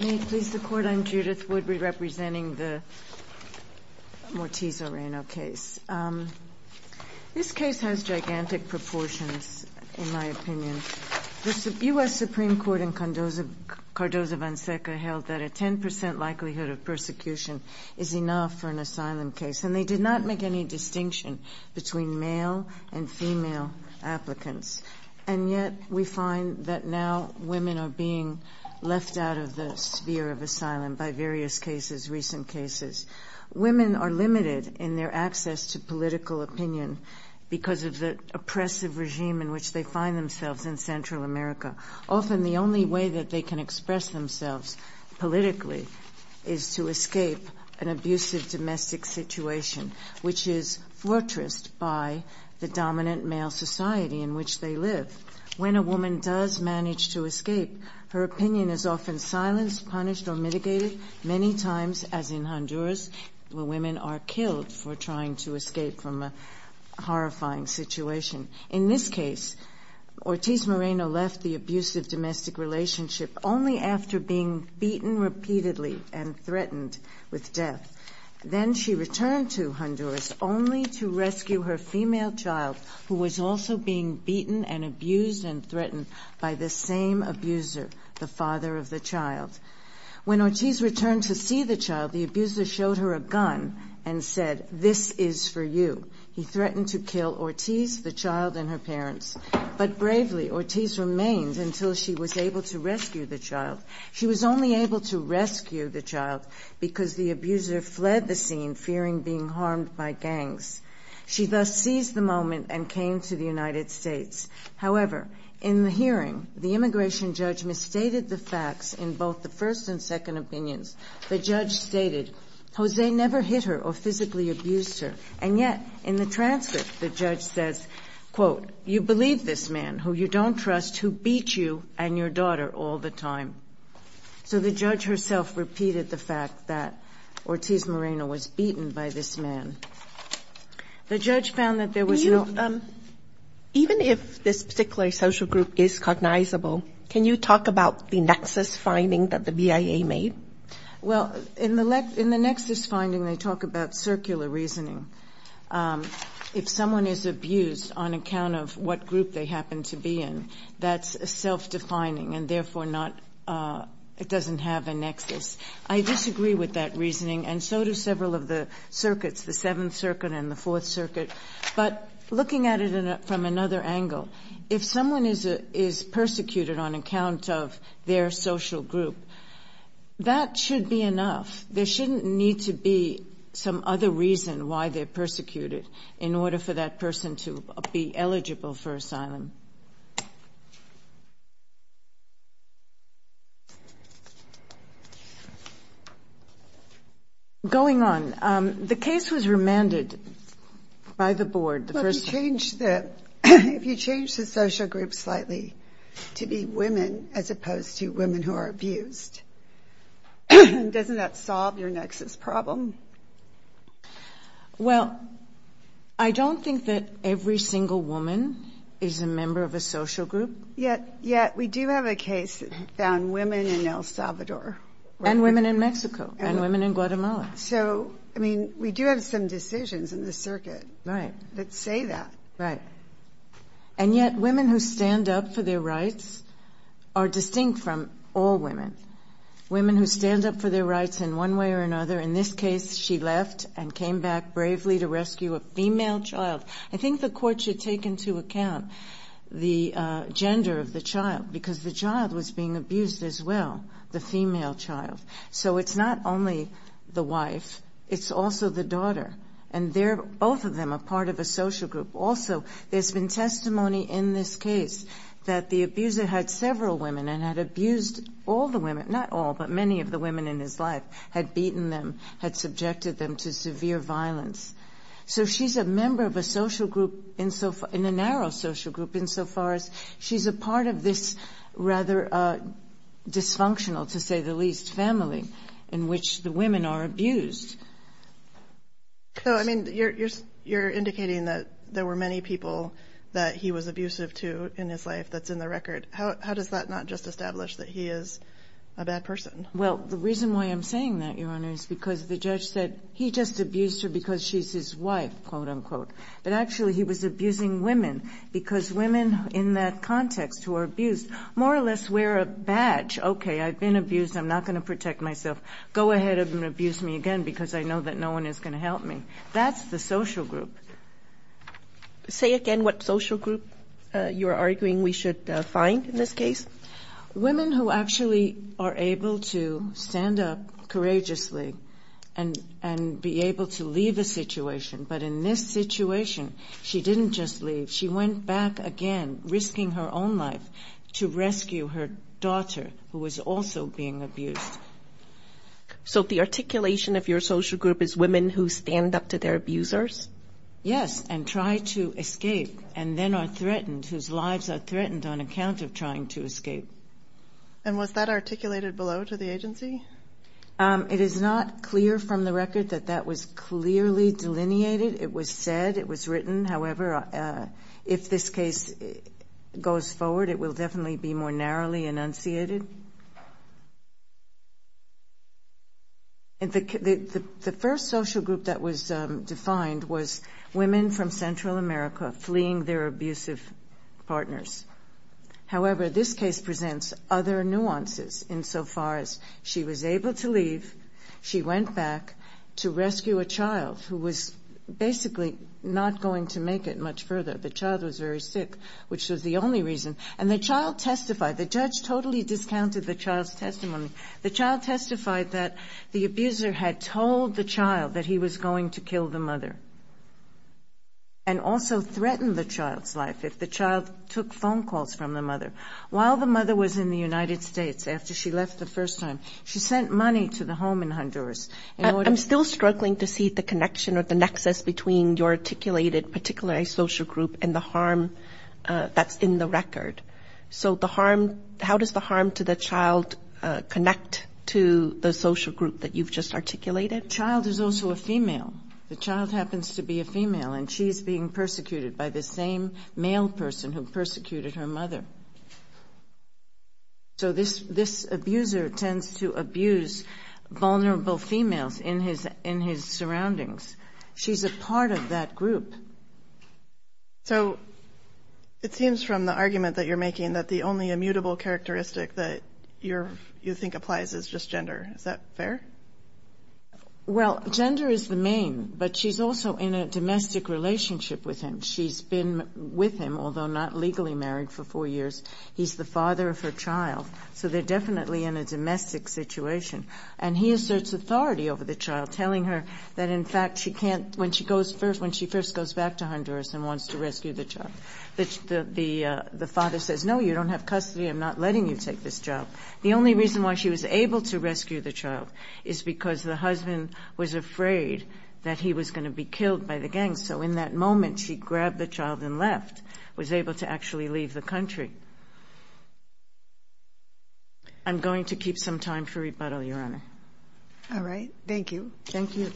May it please the Court, I'm Judith Wood, re-representing the Mortiz-Moreno case. This case has gigantic proportions, in my opinion. The U.S. Supreme Court in Cardozo-Van Seca held that a 10% likelihood of persecution is enough for an asylum case, and they did not make any distinction between male and female applicants. And yet we find that now women are being left out of the sphere of asylum by various cases, recent cases. Women are limited in their access to political opinion because of the oppressive regime in which they find themselves in Central America. Often the only way that they can express themselves politically is to escape an abusive domestic situation, which is fortressed by the dominant male society in which they live. When a woman does manage to escape, her opinion is often silenced, punished, or mitigated, many times, as in Honduras, where women are killed for trying to escape from a horrifying situation. In this case, Ortiz-Moreno left the abusive domestic relationship only after being beaten repeatedly and threatened with death. Then she returned to Honduras only to rescue her female child, who was also being beaten and abused and threatened by the same abuser, the father of the child. When Ortiz returned to see the child, the abuser showed her a gun and said, this is for you. He threatened to kill Ortiz, the child, and her parents. But bravely, Ortiz remained until she was able to rescue the child. She was only able to rescue the child because the abuser fled the scene, fearing being harmed by gangs. She thus seized the moment and came to the United States. However, in the hearing, the immigration judge misstated the facts in both the first and second opinions. The judge stated, Jose never hit her or physically abused her. And yet, in the transcript, the judge says, quote, you believe this man, who you don't trust, who beat you and your daughter all the time. So the judge herself repeated the fact that Ortiz-Moreno was beaten by this man. The judge found that there was no- Even if this particular social group is cognizable, can you talk about the nexus finding that the BIA made? Well, in the nexus finding, they talk about circular reasoning. If someone is abused on account of what group they happen to be in, that's self-defining, and therefore it doesn't have a nexus. I disagree with that reasoning, and so do several of the circuits, the Seventh Circuit and the Fourth Circuit. But looking at it from another angle, if someone is persecuted on account of their social group, that should be enough. There shouldn't need to be some other reason why they're persecuted in order for that person to be eligible for asylum. Going on, the case was remanded by the board. Well, if you change the social group slightly to be women as opposed to women who are abused, doesn't that solve your nexus problem? Well, I don't think that every single woman is a member of a social group. Yet we do have a case that found women in El Salvador. And women in Mexico and women in Guatemala. So, I mean, we do have some decisions in the circuit that say that. Right. And yet women who stand up for their rights are distinct from all women. Women who stand up for their rights in one way or another. In this case, she left and came back bravely to rescue a female child. I think the court should take into account the gender of the child, because the child was being abused as well, the female child. So it's not only the wife, it's also the daughter. And both of them are part of a social group. Also, there's been testimony in this case that the abuser had several women and had abused all the women. Not all, but many of the women in his life. Had beaten them, had subjected them to severe violence. So she's a member of a social group, in a narrow social group insofar as she's a part of this rather dysfunctional, to say the least, family in which the women are abused. So, I mean, you're indicating that there were many people that he was abusive to in his life that's in the record. How does that not just establish that he is a bad person? Well, the reason why I'm saying that, Your Honor, is because the judge said he just abused her because she's his wife, quote, unquote. But actually he was abusing women, because women in that context who are abused more or less wear a badge. Okay, I've been abused. I'm not going to protect myself. Go ahead and abuse me again, because I know that no one is going to help me. That's the social group. Say again what social group you're arguing we should find in this case. Women who actually are able to stand up courageously and be able to leave a situation. But in this situation, she didn't just leave. She went back again, risking her own life to rescue her daughter, who was also being abused. So the articulation of your social group is women who stand up to their abusers? Yes, and try to escape, and then are threatened, whose lives are threatened on account of trying to escape. And was that articulated below to the agency? It is not clear from the record that that was clearly delineated. It was said. It was written. However, if this case goes forward, it will definitely be more narrowly enunciated. The first social group that was defined was women from Central America fleeing their abusive partners. However, this case presents other nuances insofar as she was able to leave, she went back to rescue a child who was basically not going to make it much further. The child was very sick, which was the only reason. And the child testified. The judge totally discounted the child's testimony. The child testified that the abuser had told the child that he was going to kill the mother and also threatened the child's life if the child took phone calls from the mother. While the mother was in the United States, after she left the first time, she sent money to the home in Honduras. I'm still struggling to see the connection or the nexus between your articulated particular social group and the harm that's in the record. So the harm, how does the harm to the child connect to the social group that you've just articulated? The child is also a female. The child happens to be a female, and she's being persecuted by the same male person who persecuted her mother. So this abuser tends to abuse vulnerable females in his surroundings. She's a part of that group. So it seems from the argument that you're making that the only immutable characteristic that you think applies is just gender. Is that fair? Well, gender is the main, but she's also in a domestic relationship with him. She's been with him, although not legally married, for four years. He's the father of her child, so they're definitely in a domestic situation. And he asserts authority over the child, telling her that, in fact, she can't, when she goes first, when she first goes back to Honduras and wants to rescue the child, the father says, no, you don't have custody, I'm not letting you take this child. The only reason why she was able to rescue the child is because the husband was afraid that he was going to be killed by the gang. So in that moment, she grabbed the child and left, was able to actually leave the country. I'm going to keep some time for rebuttal, Your Honor. All right. Thank you. Thank you.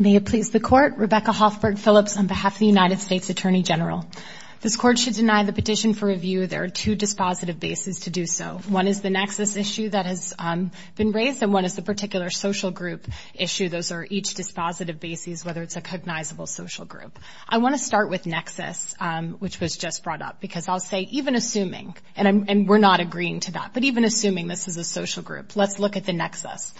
May it please the Court. Rebecca Hoffberg Phillips on behalf of the United States Attorney General. This Court should deny the petition for review. There are two dispositive bases to do so. One is the nexus issue that has been raised, and one is the particular social group issue. Those are each dispositive basis, whether it's a cognizable social group. I want to start with nexus, which was just brought up, because I'll say, even assuming, and we're not agreeing to that, but even assuming this is a social group, let's look at the nexus.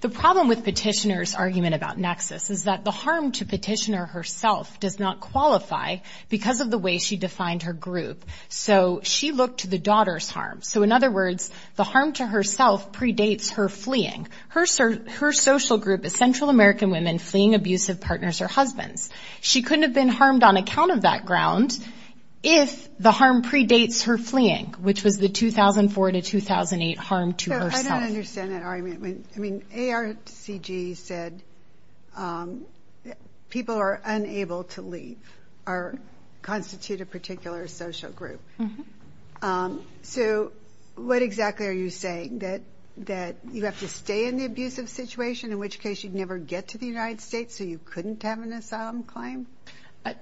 The problem with Petitioner's argument about nexus is that the harm to Petitioner herself does not qualify because of the way she defined her group. So she looked to the daughter's harm. So, in other words, the harm to herself predates her fleeing. Her social group is Central American women fleeing abusive partners or husbands. She couldn't have been harmed on account of that ground if the harm predates her fleeing, which was the 2004 to 2008 harm to herself. So I don't understand that argument. I mean, ARCG said people are unable to leave or constitute a particular social group. So what exactly are you saying, that you have to stay in the abusive situation, in which case you'd never get to the United States, so you couldn't have an asylum claim?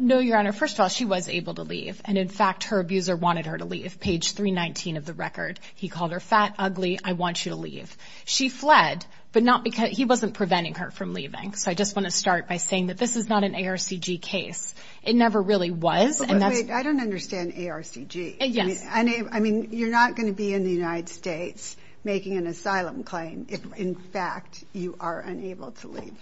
No, Your Honor. First of all, she was able to leave. And, in fact, her abuser wanted her to leave, page 319 of the record. He called her fat, ugly, I want you to leave. She fled, but he wasn't preventing her from leaving. So I just want to start by saying that this is not an ARCG case. It never really was. Wait, I don't understand ARCG. Yes. I mean, you're not going to be in the United States making an asylum claim if, in fact, you are unable to leave.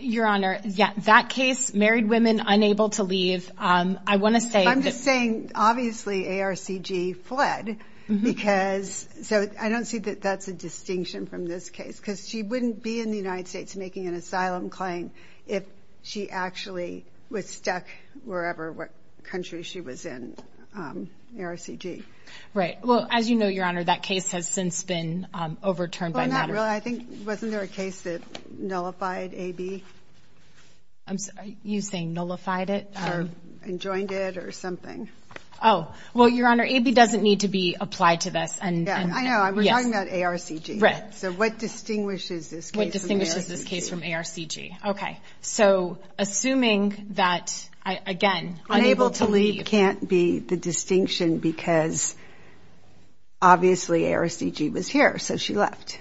Your Honor, that case, married women unable to leave, I want to say that— I'm just saying, obviously, ARCG fled because—so I don't see that that's a distinction from this case, because she wouldn't be in the United States making an asylum claim if she actually was stuck wherever, what country she was in, ARCG. Right. Well, as you know, Your Honor, that case has since been overturned by matter of— Well, not really. I think, wasn't there a case that nullified AB? You're saying nullified it? Or enjoined it or something. Oh. Well, Your Honor, AB doesn't need to be applied to this. I know. We're talking about ARCG. Right. So what distinguishes this case from ARCG? What distinguishes this case from ARCG? Okay. So assuming that, again, unable to leave— Unable to leave can't be the distinction because, obviously, ARCG was here, so she left.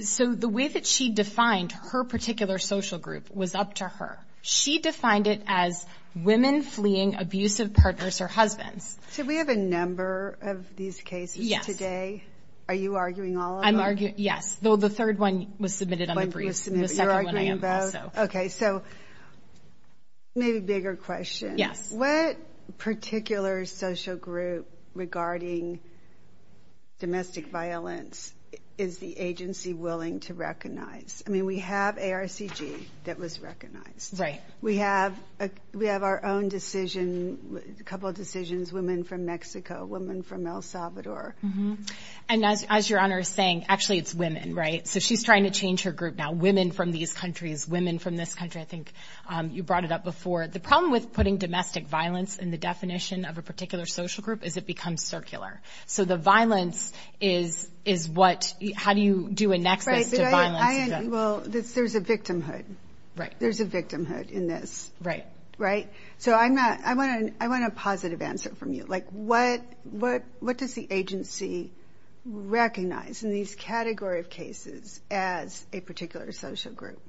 So the way that she defined her particular social group was up to her. She defined it as women fleeing abusive partners or husbands. So we have a number of these cases today. Yes. Are you arguing all of them? I'm arguing—yes. Though the third one was submitted on the brief. The second one I am also. You're arguing both? Okay. So maybe a bigger question. Yes. What particular social group regarding domestic violence is the agency willing to recognize? I mean, we have ARCG that was recognized. Right. We have our own decision, a couple of decisions, women from Mexico, women from El Salvador. And as your Honor is saying, actually, it's women, right? So she's trying to change her group now. Women from these countries, women from this country. I think you brought it up before. The problem with putting domestic violence in the definition of a particular social group is it becomes circular. So the violence is what—how do you do a nexus to violence? Well, there's a victimhood. Right. There's a victimhood in this. Right. Right? So I want a positive answer from you. Like what does the agency recognize in these category of cases as a particular social group?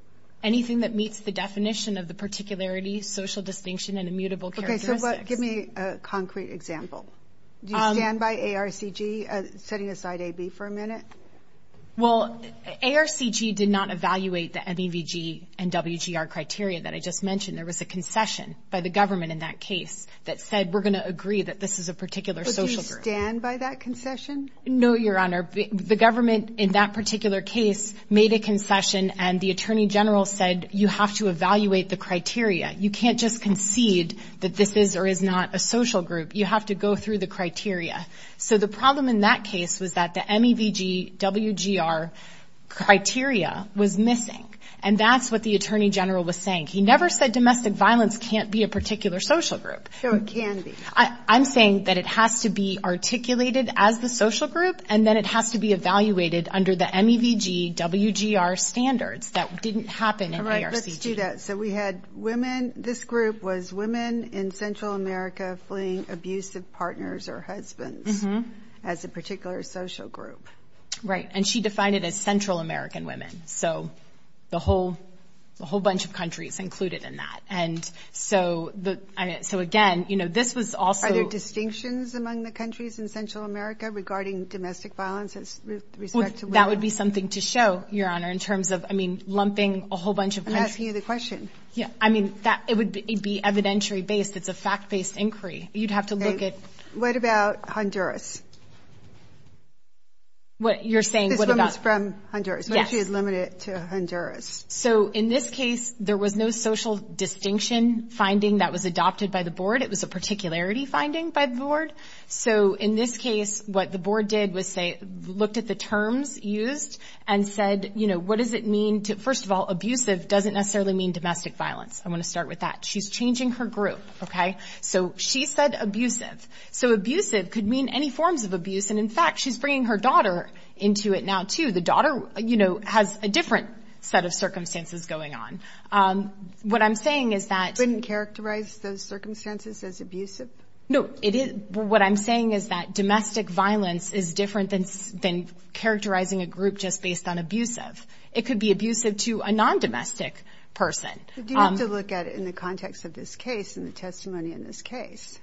Anything that meets the definition of the particularity, social distinction, and immutable characteristics. Okay. So give me a concrete example. Do you stand by ARCG setting aside AB for a minute? Well, ARCG did not evaluate the MEVG and WGR criteria that I just mentioned. There was a concession by the government in that case that said, we're going to agree that this is a particular social group. But do you stand by that concession? No, Your Honor. The government in that particular case made a concession, and the Attorney General said, you have to evaluate the criteria. You can't just concede that this is or is not a social group. You have to go through the criteria. So the problem in that case was that the MEVG-WGR criteria was missing. And that's what the Attorney General was saying. He never said domestic violence can't be a particular social group. So it can be. I'm saying that it has to be articulated as the social group, and then it has to be evaluated under the MEVG-WGR standards. That didn't happen in ARCG. Correct. Let's do that. So we had women. This group was women in Central America fleeing abusive partners or husbands as a particular social group. Right. And she defined it as Central American women. So the whole bunch of countries included in that. And so, again, you know, this was also – Are there distinctions among the countries in Central America regarding domestic violence with respect to women? That would be something to show, Your Honor, in terms of, I mean, lumping a whole bunch of countries. I'm asking you the question. Yeah, I mean, it would be evidentiary-based. It's a fact-based inquiry. You'd have to look at – Okay. What about Honduras? You're saying – This woman's from Honduras. Yes. But she is limited to Honduras. So in this case, there was no social distinction finding that was adopted by the board. It was a particularity finding by the board. So in this case, what the board did was say – looked at the terms used and said, you know, what does it mean to – first of all, abusive doesn't necessarily mean domestic violence. I want to start with that. She's changing her group, okay? So she said abusive. So abusive could mean any forms of abuse. And, in fact, she's bringing her daughter into it now, too. The daughter, you know, has a different set of circumstances going on. What I'm saying is that – Wouldn't characterize those circumstances as abusive? No. What I'm saying is that domestic violence is different than characterizing a group just based on abusive. It could be abusive to a non-domestic person. But you have to look at it in the context of this case and the testimony in this case.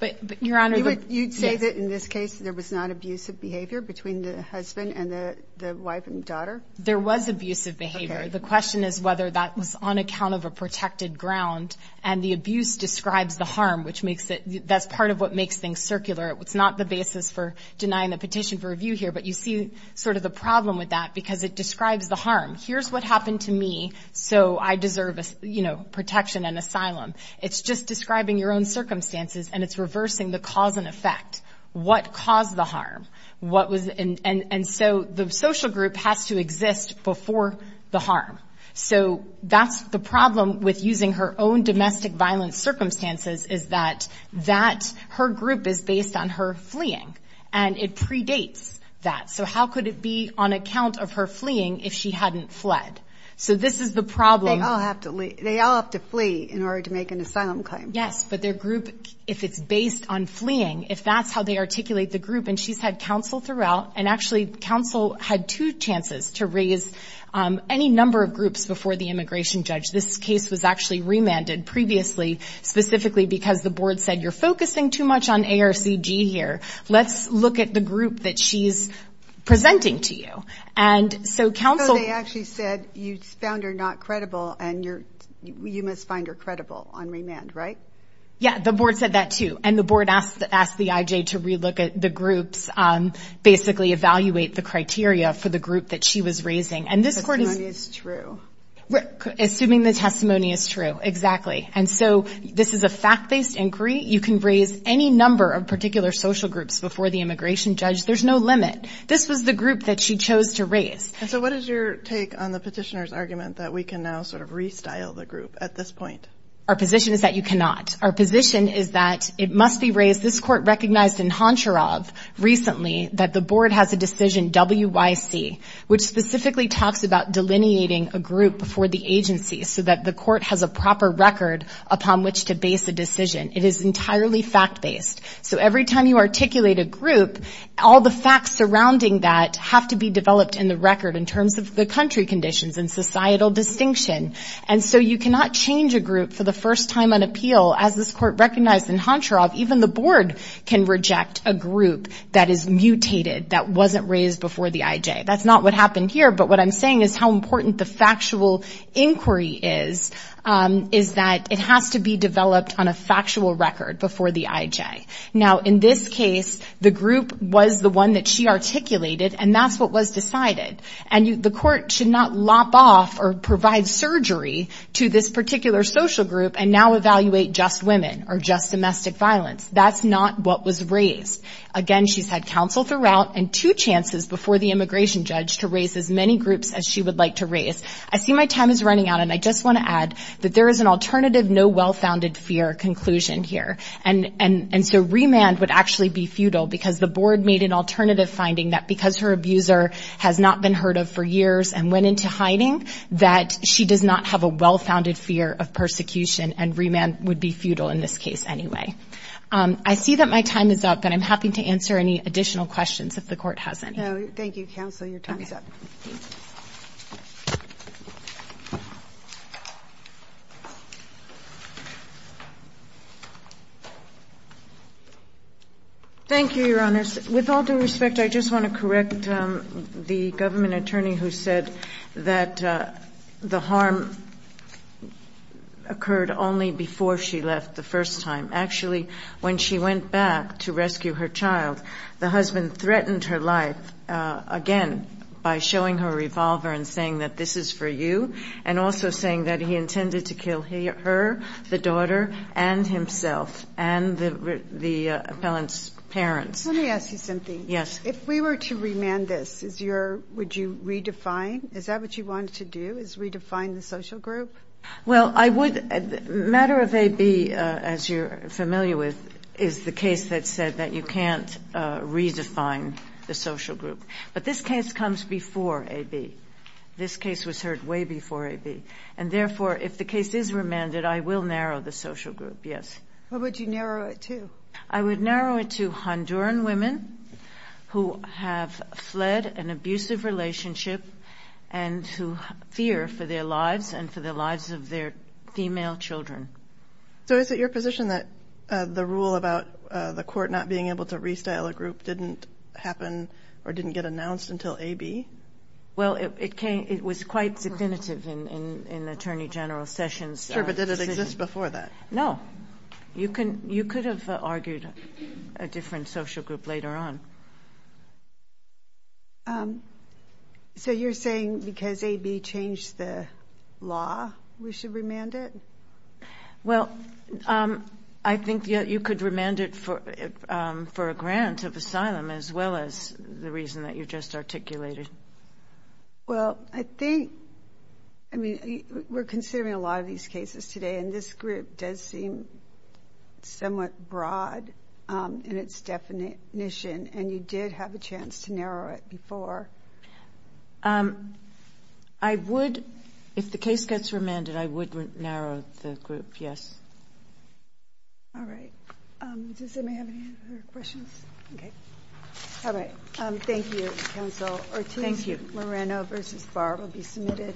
But, Your Honor – You'd say that, in this case, there was not abusive behavior between the husband and the wife and daughter? There was abusive behavior. The question is whether that was on account of a protected ground. And the abuse describes the harm, which makes it – that's part of what makes things circular. It's not the basis for denying the petition for review here. But you see sort of the problem with that because it describes the harm. Here's what happened to me, so I deserve, you know, protection and asylum. It's just describing your own circumstances, and it's reversing the cause and effect. What caused the harm? What was – and so the social group has to exist before the harm. So that's the problem with using her own domestic violence circumstances is that that – her group is based on her fleeing, and it predates that. So how could it be on account of her fleeing if she hadn't fled? So this is the problem. They all have to flee in order to make an asylum claim. Yes, but their group, if it's based on fleeing, if that's how they articulate the group, and she's had counsel throughout, and actually counsel had two chances to raise any number of groups before the immigration judge. This case was actually remanded previously specifically because the board said, you're focusing too much on ARCG here. Let's look at the group that she's presenting to you. And so counsel – you must find her credible on remand, right? Yeah, the board said that too. And the board asked the IJ to relook at the groups, basically evaluate the criteria for the group that she was raising. And this court is – The testimony is true. Assuming the testimony is true, exactly. And so this is a fact-based inquiry. You can raise any number of particular social groups before the immigration judge. There's no limit. This was the group that she chose to raise. And so what is your take on the petitioner's argument that we can now sort of restyle the group at this point? Our position is that you cannot. Our position is that it must be raised. This court recognized in Honcharov recently that the board has a decision, WYC, which specifically talks about delineating a group before the agency so that the court has a proper record upon which to base a decision. It is entirely fact-based. So every time you articulate a group, all the facts surrounding that have to be developed in the record in terms of the country conditions and societal distinction. And so you cannot change a group for the first time on appeal. As this court recognized in Honcharov, even the board can reject a group that is mutated, that wasn't raised before the IJ. That's not what happened here, but what I'm saying is how important the factual inquiry is, is that it has to be developed on a factual record before the IJ. Now, in this case, the group was the one that she articulated, and that's what was decided. And the court should not lop off or provide surgery to this particular social group and now evaluate just women or just domestic violence. That's not what was raised. Again, she's had counsel throughout and two chances before the immigration judge to raise as many groups as she would like to raise. I see my time is running out, and I just want to add that there is an alternative, no well-founded fear conclusion here. And so remand would actually be futile because the board made an alternative finding that because her abuser has not been heard of for years and went into hiding, that she does not have a well-founded fear of persecution, and remand would be futile in this case anyway. I see that my time is up, and I'm happy to answer any additional questions if the court has any. No, thank you, counsel. Your time is up. Thank you, Your Honors. With all due respect, I just want to correct the government attorney who said that the harm occurred only before she left the first time. Actually, when she went back to rescue her child, the husband threatened her life again by showing her a revolver and saying that, this is for you, and also saying that he intended to kill her, the daughter, and himself, and the appellant's parents. Let me ask you something. Yes. If we were to remand this, would you redefine? Is that what you wanted to do, is redefine the social group? Well, I would. Matter of AB, as you're familiar with, is the case that said that you can't redefine the social group. But this case comes before AB. This case was heard way before AB. And therefore, if the case is remanded, I will narrow the social group, yes. Who would you narrow it to? I would narrow it to Honduran women who have fled an abusive relationship and who fear for their lives and for the lives of their female children. So is it your position that the rule about the court not being able to restyle a group didn't happen or didn't get announced until AB? Well, it was quite definitive in Attorney General Sessions' decision. Sure, but did it exist before that? No. You could have argued a different social group later on. So you're saying because AB changed the law, we should remand it? Well, I think you could remand it for a grant of asylum as well as the reason that you just articulated. Well, I think, I mean, we're considering a lot of these cases today, and this group does seem somewhat broad in its definition, and you did have a chance to narrow it before. I would, if the case gets remanded, I would narrow the group, yes. All right. Does anybody have any other questions? Okay. All right. Thank you, counsel. Thank you. Moreno v. Barr will be submitted.